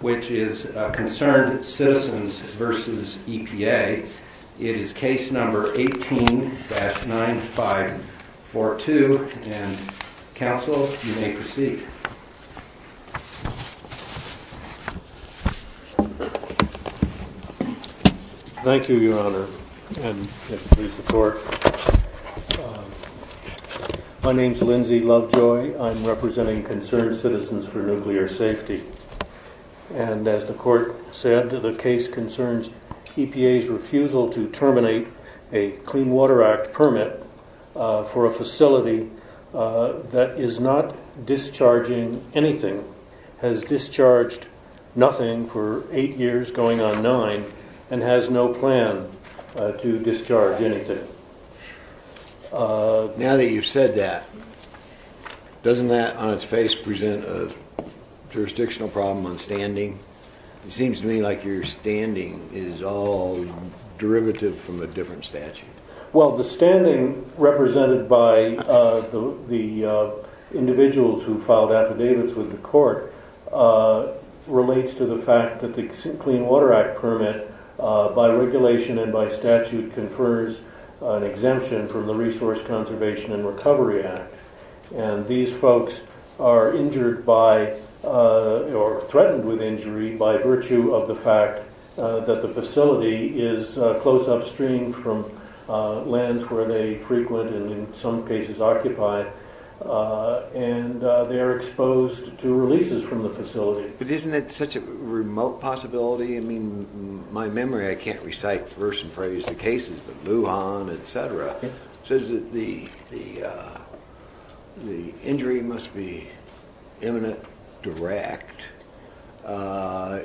which is Concerned Citizens v. EPA. It is case number 18-9542. Council, you may proceed. Thank you, Your Honor. My name is Lindsay Lovejoy. I'm representing Concerned Citizens for Nuclear Safety. And as the Court said, the case concerns EPA's refusal to terminate a Clean Water Act permit for a facility that is not discharging anything, has discharged nothing for eight years, going on nine, and has no plan to discharge anything. Now that you've said that, doesn't that on its face present a jurisdictional problem on standing? It seems to me like your standing is all derivative from a different statute. Well, the standing represented by the individuals who filed affidavits with the Court relates to the fact that the Clean Water Act permit, by regulation and by statute, confers an exemption from the Resource Conservation and Recovery Act. And these folks are injured by, or threatened with injury by virtue of the fact that the facility is close upstream from lands where they frequent and in some cases occupy, and they are exposed to releases from the facility. But isn't that such a remote possibility? I mean, in my memory, I can't recite verse and phrase the cases, but Wuhan, etc., says that the injury must be imminent, direct. How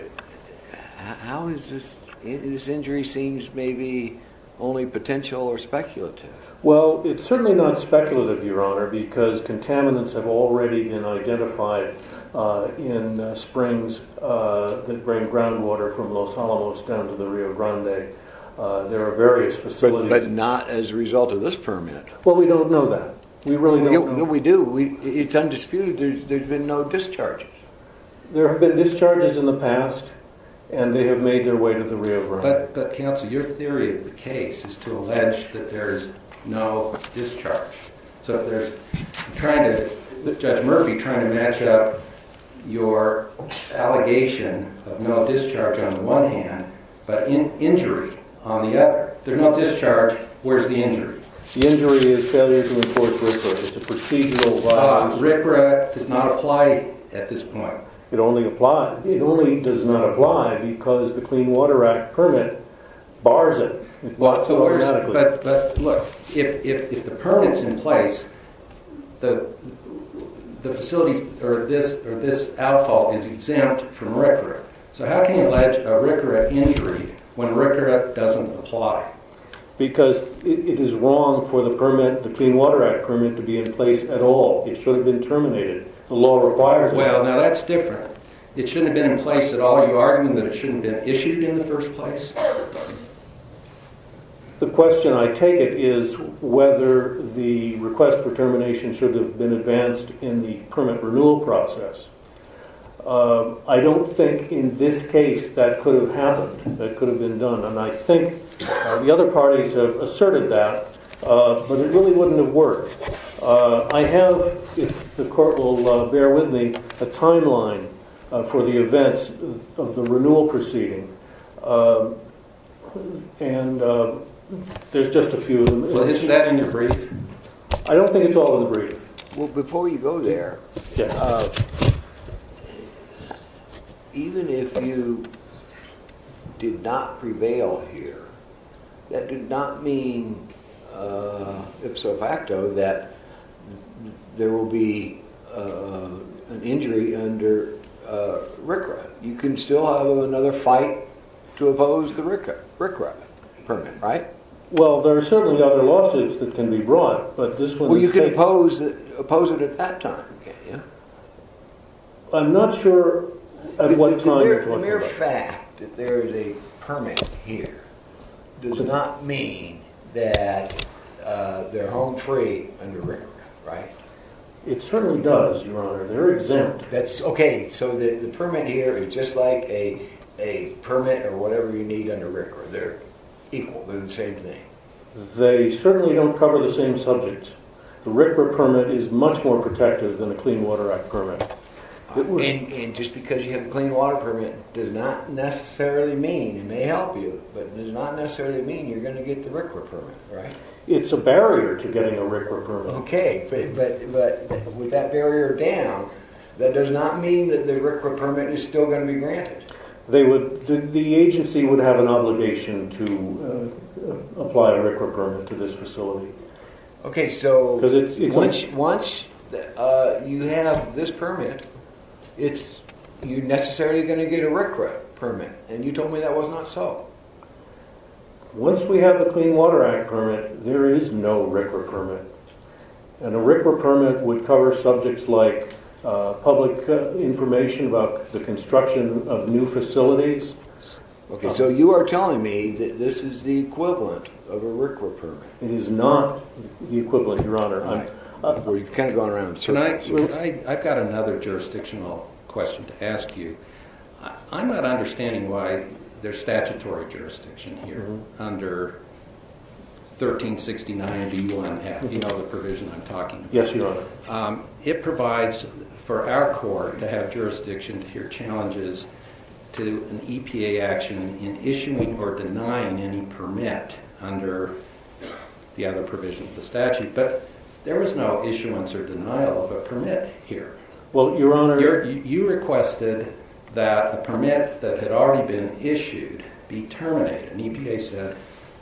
is this, this injury seems maybe only potential or speculative? Well, it's certainly not speculative, Your Honor, because contaminants have already been identified in springs that bring groundwater from Los Alamos down to the Rio Grande. There are various facilities... But not as a result of this permit. Well, we don't know that. We really don't know. No, we do. It's undisputed. There's been no discharges. There have been discharges in the past, and they have made their way to the Rio Grande. But, counsel, your theory of the case is to allege that there's no discharge. So if there's, trying to, Judge Murphy, trying to match up your allegation of no discharge on the one hand, but injury on the other. There's no discharge. Where's the injury? The injury is failure to enforce RCRA. It's a procedural violation. RCRA does not apply at this point. It only applies. It only does not apply because the Clean Water Act permit bars it. But, look, if the permit's in place, the facilities, or this outfall is exempt from RCRA. So how can you allege a RCRA injury when RCRA doesn't apply? Because it is wrong for the permit, the Clean Water Act permit, to be in place at all. It should have been terminated. The law requires it. Well, now that's different. It shouldn't have been in place at all. Are you arguing that it shouldn't have been issued in the first place? The question, I take it, is whether the request for termination should have been advanced in the permit renewal process. I don't think in this case that could have happened, that could have been done. And I think the other parties have asserted that. But it really wouldn't have worked. I have, if the court will bear with me, a timeline for the events of the renewal proceeding. And there's just a few of them. Is that in your brief? I don't think it's all in the brief. Well, before you go there, even if you did not prevail here, that did not mean ipso facto that there will be an injury under RCRA. You can still have another fight to oppose the RCRA permit, right? Well, there are certainly other lawsuits that can be brought, but this one... Well, you can oppose it at that time, can't you? I'm not sure at what They're home free under RCRA, right? It certainly does, Your Honor. They're exempt. Okay, so the permit here is just like a permit or whatever you need under RCRA. They're equal, they're the same thing. They certainly don't cover the same subjects. The RCRA permit is much more protective than a Clean Water Act permit. And just because you have a Clean Water Permit does not necessarily mean, it may help you, but it does not necessarily mean you're going to get the RCRA permit, right? It's a barrier to getting a RCRA permit. Okay, but with that barrier down, that does not mean that the RCRA permit is still going to be granted. The agency would have an obligation to apply a RCRA permit to this facility. Okay, so once you have this permit, you're necessarily going to get a RCRA permit, and you told me that was not so. Once we have the Clean Water Act permit, there is no RCRA permit. And a RCRA permit would cover subjects like public information about the construction of new facilities. Okay, so you are telling me that this is the equivalent of a RCRA permit. It is not the equivalent, Your Honor. We're kind of going around in circles. I've got another jurisdictional question to ask you. I'm not understanding why there's statutory jurisdiction here under 1369B1F, you know the provision I'm talking about. Yes, Your Honor. It provides for our court to have jurisdiction to hear challenges to an EPA action in issuing or denying any permit under the other provision of the statute, but there was no issuance or denial of a permit here. Well, Your Honor. You requested that the permit that had already been issued be terminated, and EPA said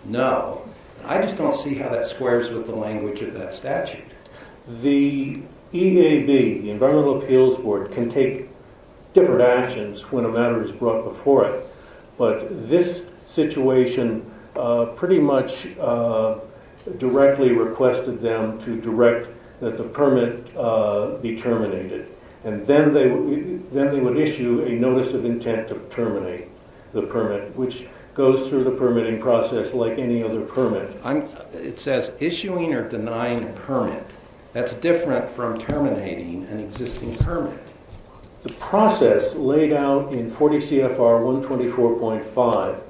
no. I just don't see how that squares with the language of that statute. The EAB, the Environmental Appeals Board, can take different actions when a matter is brought before it, but this situation pretty much directly requested them to direct that the permit be terminated, and then they would issue a notice of intent to terminate the permit, which goes through the permitting process like any other permit. It says issuing or denying a permit. That's different from terminating an existing permit. The process laid out in 40 CFR 124.5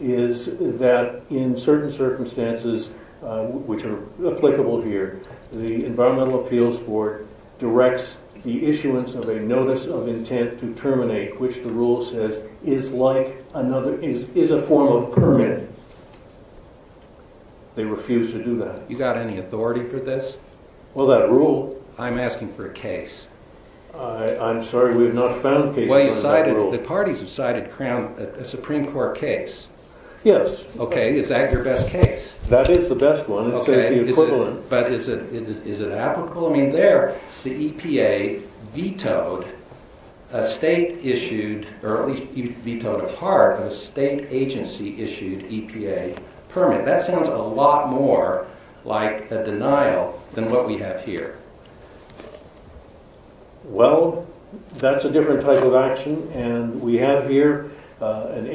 is that in certain circumstances, which are applicable here, the Environmental Appeals Board directs the issuance of a notice of intent to terminate, which the rule says is a form of permit. They refuse to do that. You got any authority for I'm sorry, we have not found cases under that rule. Well, you cited, the parties have cited a Supreme Court case. Yes. Okay, is that your best case? That is the best one. It says the equivalent. But is it applicable? I mean, there, the EPA vetoed a state-issued, or at least vetoed a part of a state agency-issued EPA permit. That sounds a lot more like a Well, that's a different type of action, and we have here an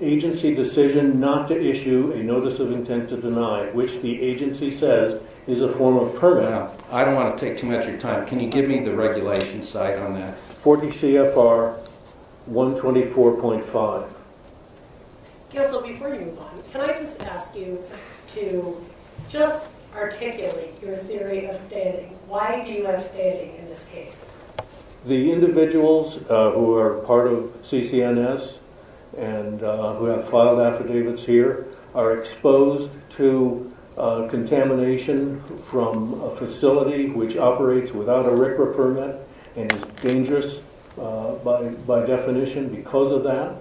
agency decision not to issue a notice of intent to deny, which the agency says is a form of permit. Now, I don't want to take too much of your time. Can you give me the regulation site on that? 40 CFR Why do you have stating in this case? The individuals who are part of CCNS and who have filed affidavits here are exposed to contamination from a facility which operates without a RCRA permit and is dangerous by definition because of that,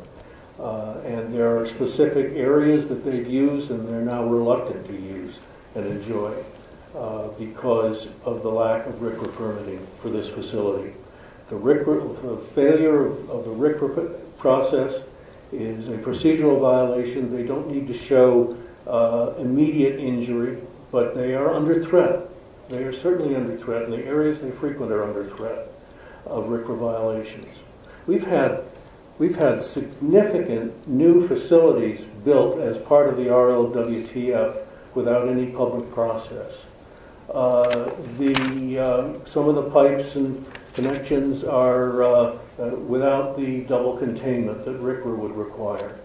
and there are specific areas that they've used and they're now reluctant to use and enjoy because of the lack of RCRA permitting for this facility. The failure of the RCRA process is a procedural violation. They don't need to show immediate injury, but they are under threat. They are certainly under threat, and the areas they frequent are under threat of RCRA violations. We've had significant new facilities built as part of the RLWTF without any public process. Some of the pipes and connections are without the double containment that RCRA would require.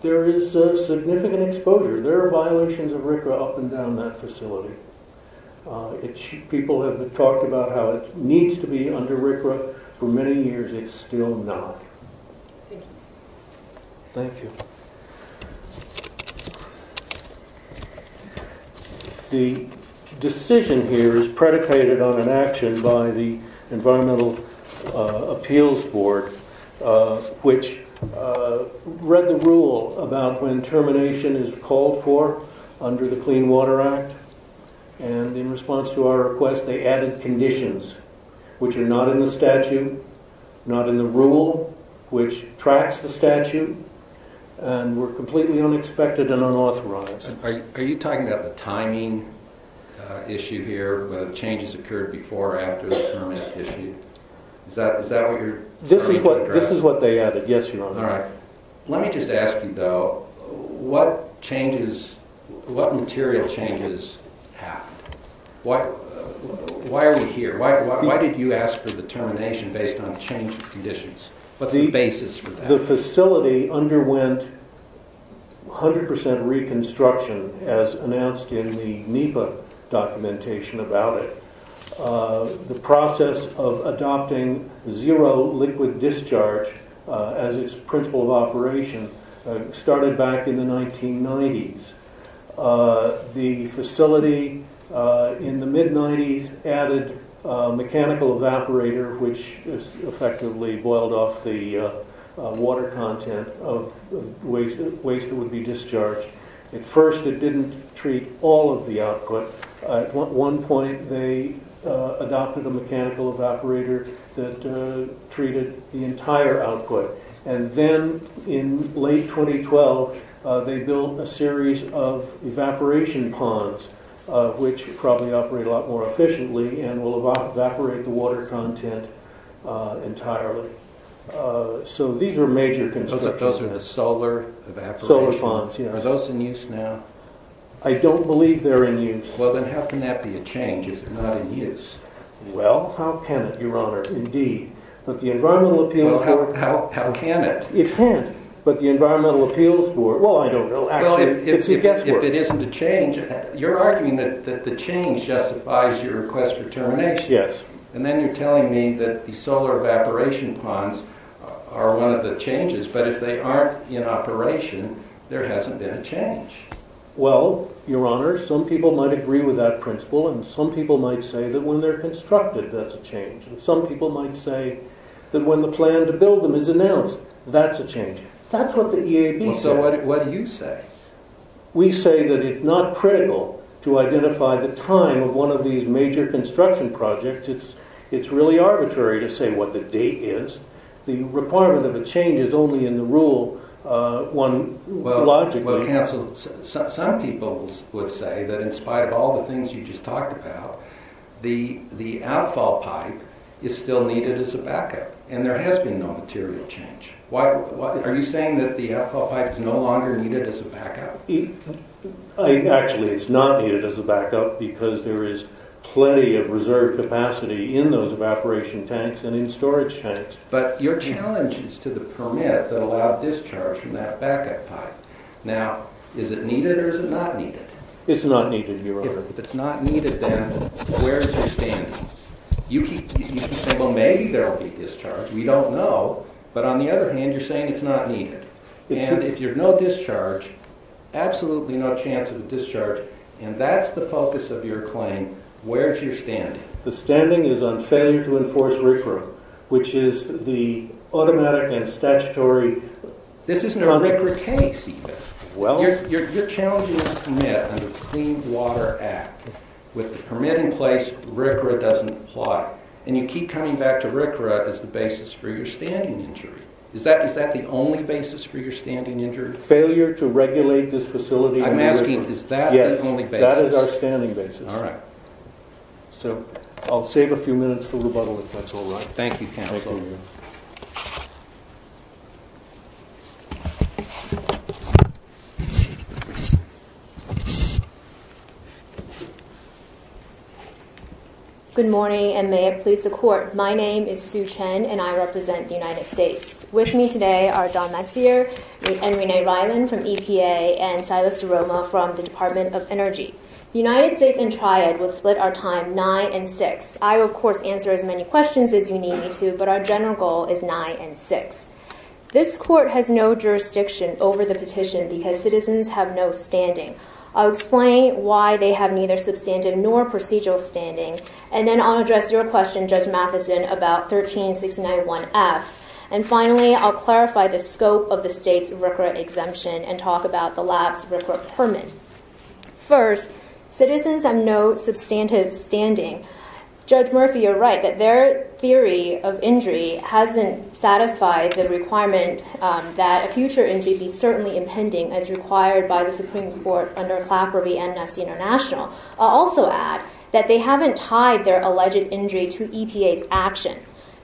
There is significant exposure. There are violations of RCRA up and down that facility. People have talked about how it needs to be under RCRA. For many years, it's still not. Thank you. Thank you. The decision here is predicated on an action by the Environmental Appeals Board, which read the rule about when termination is called for under the Clean Water Act, and in response to our request, they added conditions, which are not in the statute, not in the rule, which tracks the statute, and were completely unexpected and unauthorized. Are you talking about the timing issue here, where the changes occurred before or after the permit issue? Is that what you're referring to? This is what they added, yes, Your Honor. All right. Let me just ask you, though, what changes, what material changes happened? Why are we here? Why did you ask for the termination based on change of conditions? What's the basis for that? The facility underwent 100% reconstruction, as announced in the NEPA documentation about it. The process of adopting zero liquid discharge as its principle of operation started back in the 1990s. The facility, in the mid-90s, added a mechanical evaporator, which effectively boiled off the water content of waste that would be discharged. At first, it didn't treat all of the output. At one point, they adopted a mechanical evaporator that treated the entire output. And then, in late 2012, they built a series of evaporation ponds, which probably operate a lot more efficiently and will evaporate the water content entirely. So these are major constructions. Those are the solar evaporators? Solar ponds, yes. Are those in use now? I don't believe they're in use. Well, then how can that be a change if they're not in use? Well, how can it, Your Honor? Indeed. But the Environmental Appeals Board... Well, how can it? It can't. But the Environmental Appeals Board... Well, I don't know. Well, if it isn't a change, you're arguing that the change justifies your request for termination. Yes. And then you're telling me that the solar evaporation ponds are one of the changes, but if they aren't in operation, there hasn't been a change. Well, Your Honor, some people might agree with that principle, and some people might say that when they're constructed, that's a change. And some people might say that when the plan to build them is announced, that's a change. That's what the EAB said. So what do you say? We say that it's not critical to identify the time of one of these major construction projects. It's really arbitrary to say what the date is. The requirement of a change is only in the rule one logically... Well, counsel, some people would say that in spite of all the things you just talked about, the outfall pipe is still needed as a backup, and there has been no material change. Are you saying that the outfall pipe is no longer needed as a backup? Actually, it's not needed as a backup because there is plenty of reserve capacity in those evaporation tanks and in storage tanks. But your challenge is to the permit that allowed discharge from that backup pipe. Now, is it needed or is it not needed? It's not needed, Your Honor. If it's not needed, then where's your standing? You keep saying, well, maybe there will be discharge. We don't know. But on the other hand, you're saying it's not needed. And if there's no discharge, absolutely no chance of a discharge, and that's the focus of your claim, where's your standing? The standing is on failure to enforce RCRA, which is the automatic and statutory... This isn't a RCRA case, even. You're challenging the permit under the Clean Water Act. With the permit in place, RCRA doesn't apply. And you keep coming back to RCRA as the basis for your standing injury. Is that the only basis for your standing injury? Failure to regulate this facility... I'm asking, is that the only basis? Yes, that is our standing basis. All right. So, I'll save a few minutes for rebuttal, if that's all right. Thank you, counsel. Good morning, and may it please the Court. My name is Sue Chen, and I represent the United States. With me today are Don Messier and Renee Ryland from EPA, and Silas DeRoma from the Department of Energy. The United States Intriate would split our time 9 and 6. I, of course, answer as many questions as you need me to, but our general goal is 9 and 6. This Court has no jurisdiction over the petition because citizens have no standing. I'll explain why they have neither substantive nor procedural standing, and then I'll address your question, Judge Matheson, about 13691F. And finally, I'll clarify the scope of the lab's report permit. First, citizens have no substantive standing. Judge Murphy, you're right, that their theory of injury hasn't satisfied the requirement that a future injury be certainly impending as required by the Supreme Court under Clapper v. Amnesty International. I'll also add that they haven't tied their alleged injury to EPA's action.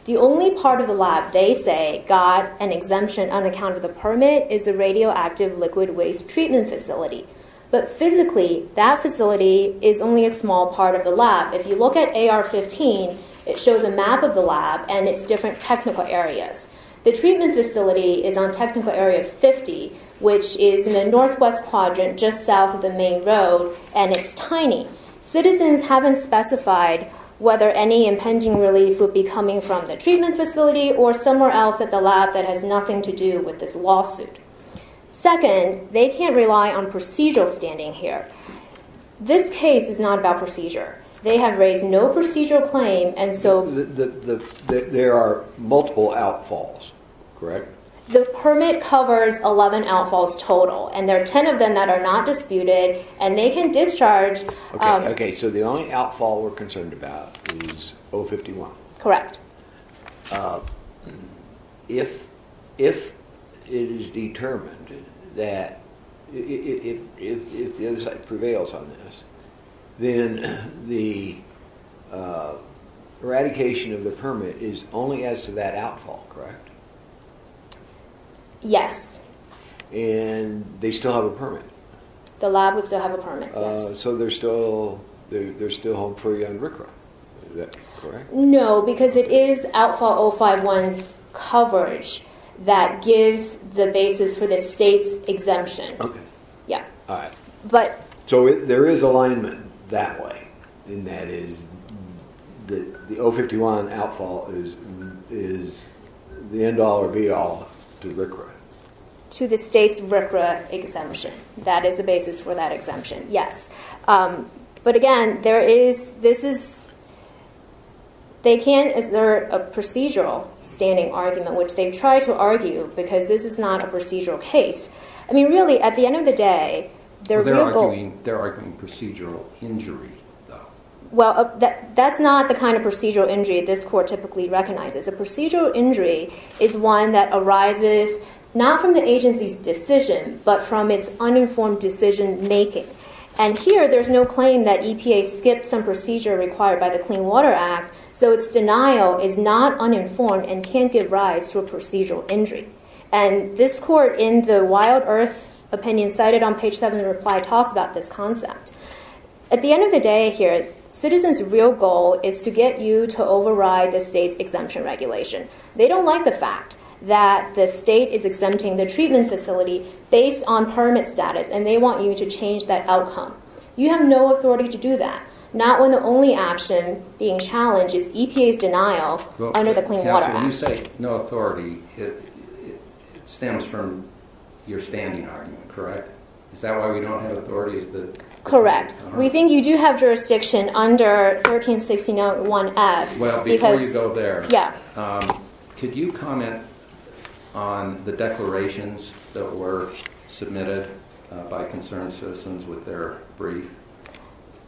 The only part of the lab they say got an exemption on account of the permit is the radioactive liquid waste treatment facility. But physically, that facility is only a small part of the lab. If you look at AR-15, it shows a map of the lab and its different technical areas. The treatment facility is on Technical Area 50, which is in the northwest quadrant just south of the main road, and it's tiny. Citizens haven't specified whether any impending release would be coming from the treatment facility or somewhere else at the lab that has nothing to do with this lawsuit. Second, they can't rely on procedural standing here. This case is not about procedure. They have raised no procedural claim, and so... There are multiple outfalls, correct? The permit covers 11 outfalls total, and there are 10 of them that are not disputed, and they can discharge... Okay, so the only outfall we're concerned about is 051. Correct. If it is determined that... If the other side prevails on this, then the eradication of the permit is only as to that outfall, correct? Yes. And they still have a permit? The lab would still have a permit, yes. So they're still home free on RCRA, is that correct? No, because it is outfall 051's coverage that gives the basis for the state's exemption. Okay. Yeah. All right. But... So there is alignment that way, and that is the 051 outfall is the end all or be all to RCRA? To the state's RCRA exemption. That is the basis for that exemption, yes. But again, there is... This is... They can assert a procedural standing argument, which they've tried to argue, because this is not a procedural case. I mean, really, at the end of the day, they're legal... They're arguing procedural injury, though. Well, that's not the kind of procedural injury this court typically recognizes. A procedural injury is one that arises not from the agency's decision, but from its uninformed decision making. And here, there's no claim that EPA skipped some procedure required by the Clean Water Act, so its denial is not uninformed and can't give rise to a procedural injury. And this court, in the wild earth opinion cited on page seven of the reply, talks about this concept. At the end of the day here, citizens' real goal is to get you to override the state's exemption regulation. They don't like the fact that the state is exempting the treatment facility based on permit status, and they want you to change that outcome. You have no authority to do that, not when the only action being challenged is EPA's denial under the Clean Water Act. Counsel, when you say no authority, it stems from your standing argument, correct? Is that why we don't have authorities that... Correct. We think you do have jurisdiction under 1361F, because... ...that were submitted by concerned citizens with their brief?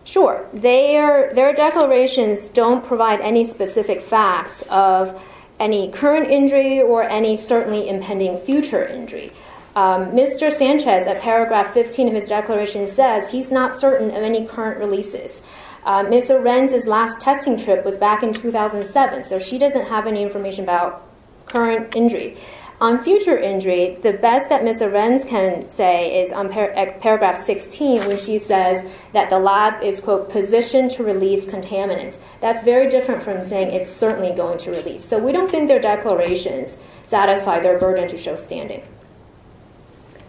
Sure. Their declarations don't provide any specific facts of any current injury or any certainly impending future injury. Mr. Sanchez, at paragraph 15 of his declaration, says he's not certain of any current releases. Ms. Lorenz's last testing trip was back in 2007, so she doesn't have any information about current injury. On future injury, the best that Ms. Lorenz can say is on paragraph 16, where she says that the lab is, quote, positioned to release contaminants. That's very different from saying it's certainly going to release. So we don't think their declarations satisfy their burden to show standing.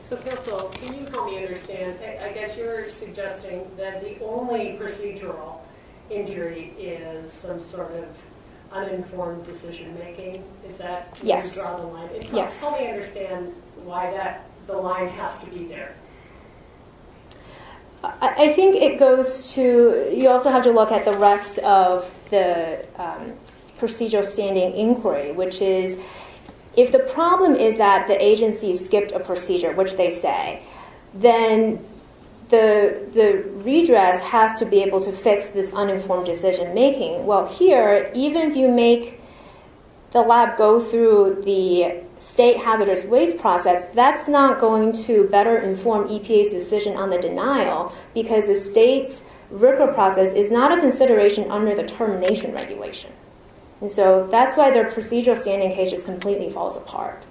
So, counsel, can you help me understand? I guess you're suggesting that the only procedural injury is some sort of uninformed decision-making? Is that how you draw the line? Yes. Help me understand why the line has to be there. I think it goes to... you also have to look at the rest of the procedural standing inquiry, which is, if the problem is that the agency skipped a procedure, which they say, then the agency makes this uninformed decision-making. Well, here, even if you make the lab go through the state hazardous waste process, that's not going to better inform EPA's decision on the denial, because the state's RCRA process is not a consideration under the termination regulation. And so that's why their procedural standing case just completely falls apart.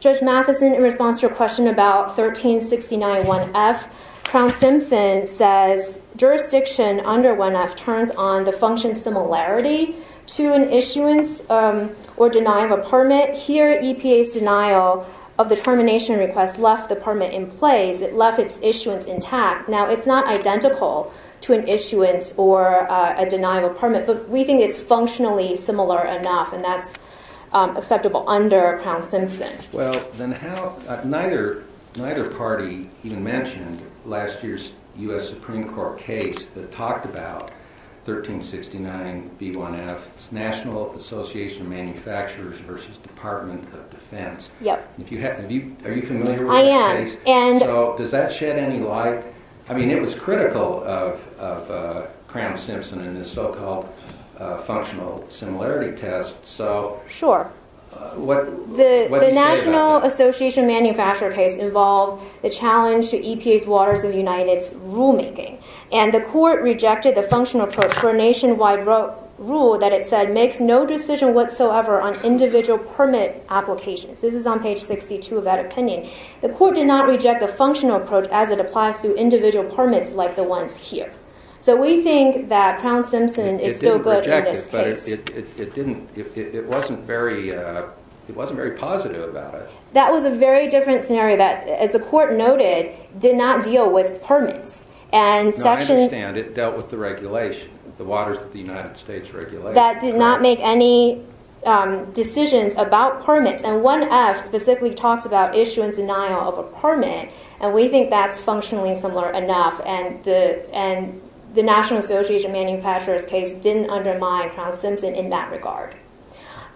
Judge Matheson, in response to your question about 1369 1F, Crown Simpson says, jurisdiction under 1F turns on the function similarity to an issuance or denial of permit. Here, EPA's denial of the termination request left the permit in place. It left its issuance intact. Now, it's not identical to an issuance or a denial of permit, but we think it's functionally similar enough, and that's acceptable under Crown Simpson. Well, then how... neither party even mentioned last year's U.S. Supreme Court case that talked about 1369 B1F's National Association of Manufacturers versus Department of Defense. Yep. Are you familiar with the case? I am. So, does that shed any light? I mean, it was critical of Crown Simpson in this so-called functional similarity test, so... Sure. What do you say about that? The National Association of Manufacturers case involved the challenge to EPA's Waters of United's rulemaking, and the court rejected the functional approach for a nationwide rule that it said makes no decision whatsoever on individual permit applications. This is on page 62 of that opinion. The court did not reject the functional approach as it applies to individual permits like the ones here. So, we think that Crown Simpson is still good in this case. It didn't reject it, but it didn't... it wasn't very... it wasn't very positive about it. That was a very different scenario that, as the court noted, did not deal with permits, and section... No, I understand. It dealt with the regulation, the Waters of the United States regulation. That did not make any decisions about permits, and 1F specifically talks about issue and denial of a and the National Association of Manufacturers case didn't undermine Crown Simpson in that regard.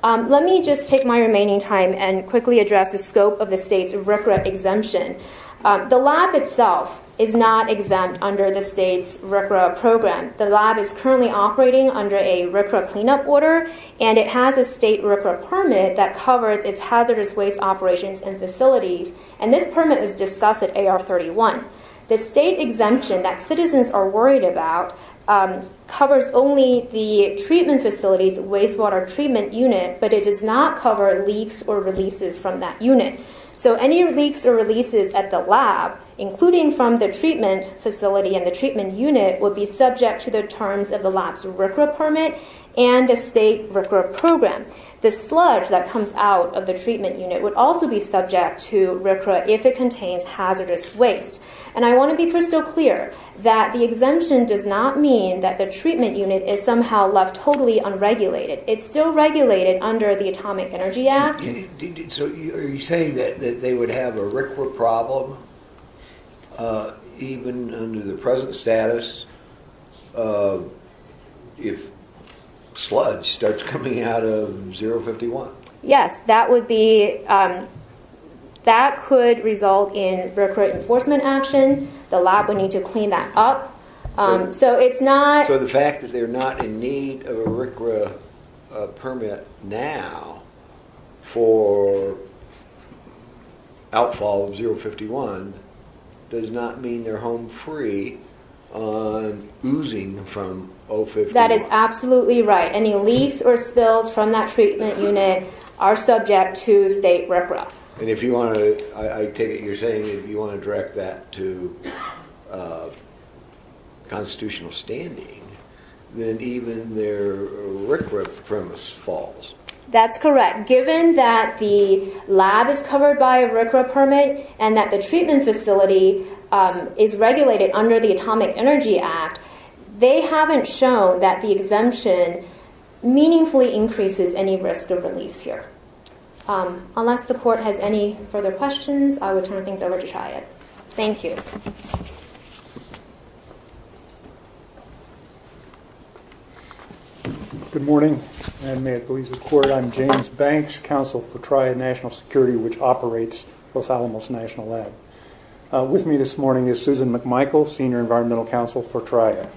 Let me just take my remaining time and quickly address the scope of the state's RCRA exemption. The lab itself is not exempt under the state's RCRA program. The lab is currently operating under a RCRA cleanup order, and it has a state RCRA permit that covers its hazardous waste operations and facilities, and this permit was discussed at AR-31. The state exemption that citizens are worried about covers only the treatment facilities, wastewater treatment unit, but it does not cover leaks or releases from that unit. So, any leaks or releases at the lab, including from the treatment facility and the treatment unit, would be subject to the terms of the lab's RCRA permit and the state RCRA program. The sludge that comes out of the treatment unit would also be subject to RCRA if it contains hazardous waste. And I want to be crystal clear that the exemption does not mean that the treatment unit is somehow left totally unregulated. It's still regulated under the Atomic Energy Act. So, are you saying that they would have a RCRA problem even under the present status if sludge starts coming out of 051? Yes, that would be – that could result in RCRA enforcement action. The lab would need to clean that up. So, it's not – So, the fact that they're not in need of a RCRA permit now for outfall of 051 does not mean they're home free on oozing from 051? That is absolutely right. Any leaks or spills from that treatment unit are subject to state RCRA. And if you want to – I take it you're saying if you want to direct that to constitutional standing, then even their RCRA premise falls. That's correct. Given that the lab is covered by a RCRA permit and that the treatment facility is regulated under the Atomic Energy Act, they haven't shown that the exemption meaningfully increases any risk of release here. Unless the Court has any further questions, I will turn things over to TRIAD. Thank you. Good morning, and may it please the Court, I'm James Banks, Counsel for TRIAD National Security, which operates Los Alamos National Lab. With me this morning is Susan McMichael, Senior Environmental Counsel for TRIAD.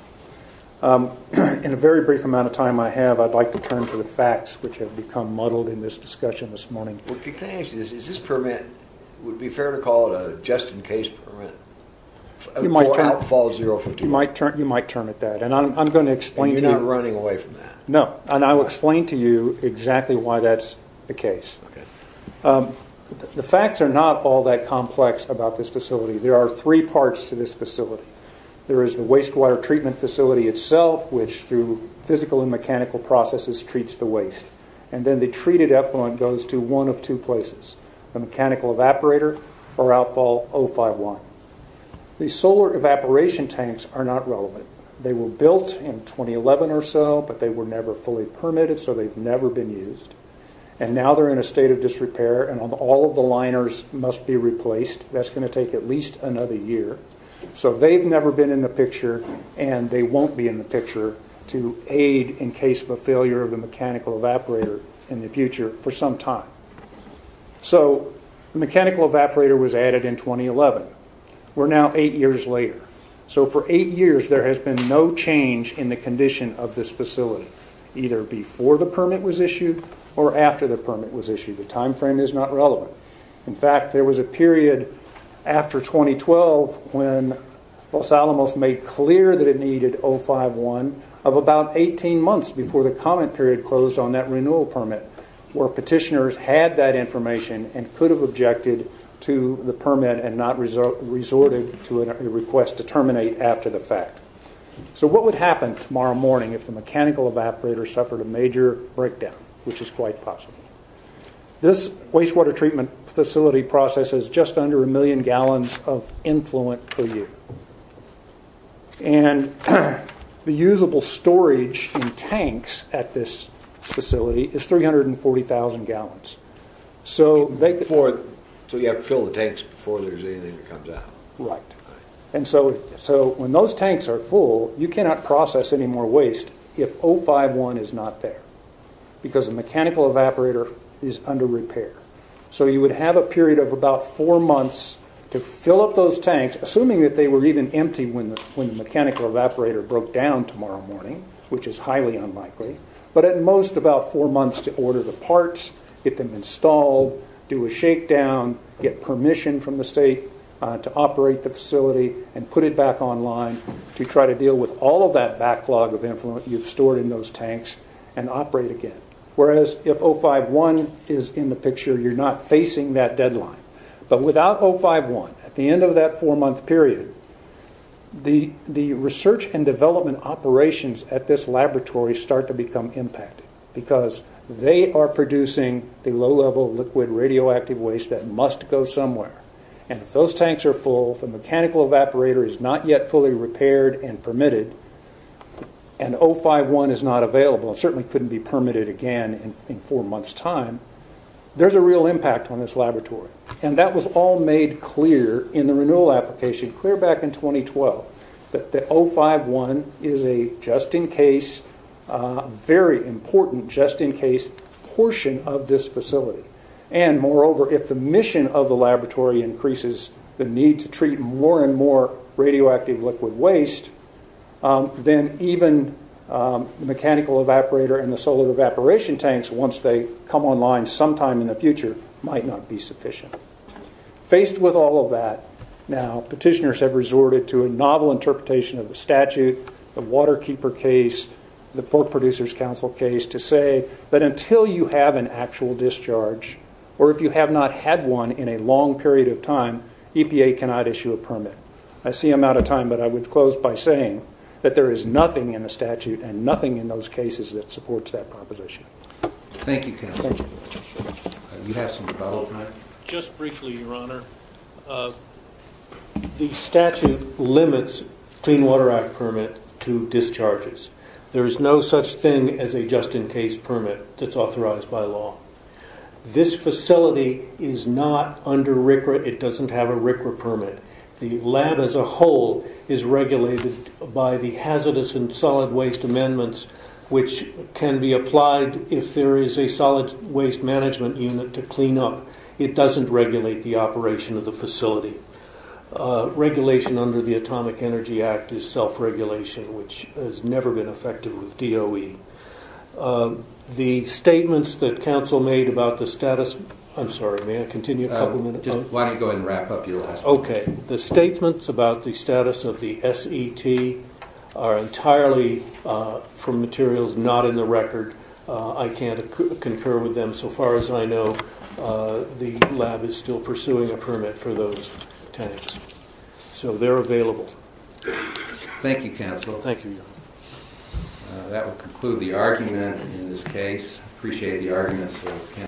In the very brief amount of time I have, I'd like to turn to the facts which have become muddled in this discussion this morning. Is this permit – would it be fair to call it a just-in-case permit for outfall of 051? You might term it that, and I'm going to explain to you – And you're not running away from that? No, and I will explain to you exactly why that's the case. The facts are not all that complex about this facility. There are three parts to this facility. There is the wastewater treatment facility itself, which through physical and mechanical processes treats the waste. And then the treated effluent goes to one of two places – a mechanical evaporator or outfall 051. The solar evaporation tanks are not relevant. They were built in 2011 or so, but they were never fully permitted, so they've never been used. And now they're in a state of disrepair, and all of the liners must be replaced. That's going to take at least another year. So they've never been in the picture, and they won't be in the picture to aid in case of a failure of the mechanical evaporator in the future for some time. So the mechanical evaporator was added in 2011. We're now eight years later. So for eight years, there has been no change in the condition of this facility, either before the permit was issued or after the permit was issued. The time frame is not relevant. In fact, there was a period after 2012 when Los Alamos made clear that it needed 051 of about 18 months before the comment period closed on that renewal permit, where petitioners had that information and could have objected to the permit and not resorted to a request to terminate after the fact. So what would happen tomorrow morning if the mechanical evaporator suffered a major breakdown, which is quite possible? This wastewater treatment facility process is just under a million gallons of influent per year. The usable storage in tanks at this facility is 340,000 gallons. So you have to fill the tanks before there's anything that comes out. Right. So when those tanks are full, you cannot process any more waste if 051 is not there, because the mechanical evaporator is under repair. So you would have a period of about four months to fill up those tanks, assuming that they were even empty when the mechanical evaporator broke down tomorrow morning, which is highly unlikely, but at most about four months to order the parts, get them installed, do a shakedown, get permission from the state to operate the facility and put it back online to try to deal with all of that backlog of influent you've stored in those tanks and operate again. Whereas if 051 is in the picture, you're not facing that deadline. But without 051, at the end of that four-month period, the research and development operations at this laboratory start to become impacted, because they are producing the low-level liquid radioactive waste that must go somewhere. And if those tanks are full, the mechanical evaporator is not yet fully repaired and permitted, and 051 is not available and certainly couldn't be permitted again in four months' time, there's a real impact on this laboratory. And that was all made clear in the renewal application, clear back in 2012, that the 051 is a just-in-case, very important just-in-case portion of this facility. And moreover, if the mission of the laboratory increases the need to treat more and more radioactive liquid waste, then even the mechanical evaporator and the solar evaporation tanks, once they come online sometime in the future, might not be sufficient. Faced with all of that, now petitioners have resorted to a novel interpretation of the statute, the Waterkeeper case, the Pork Producers' Council case, to say that until you have an actual discharge, or if you have not had one in a long period of time, EPA cannot issue a permit. I see I'm out of time, but I would close by saying that there is nothing in the statute and nothing in those cases that supports that proposition. Thank you, Ken. Thank you. You have some development? Just briefly, Your Honor. The statute limits Clean Water Act permit to discharges. There is no such thing as a just-in-case permit that's authorized by law. This facility is not under RCRA. It doesn't have a RCRA permit. The lab as a whole is regulated by the hazardous and solid waste amendments, which can be applied if there is a solid waste management unit to clean up. It doesn't regulate the operation of the facility. Regulation under the Atomic Energy Act is self-regulation, which has never been effective with DOE. The statements that counsel made about the status of the SET are entirely from me. There are certain materials not in the record. I can't concur with them. So far as I know, the lab is still pursuing a permit for those tanks. So they're available. Thank you, counsel. Thank you, Your Honor. That will conclude the argument in this case. I appreciate the arguments.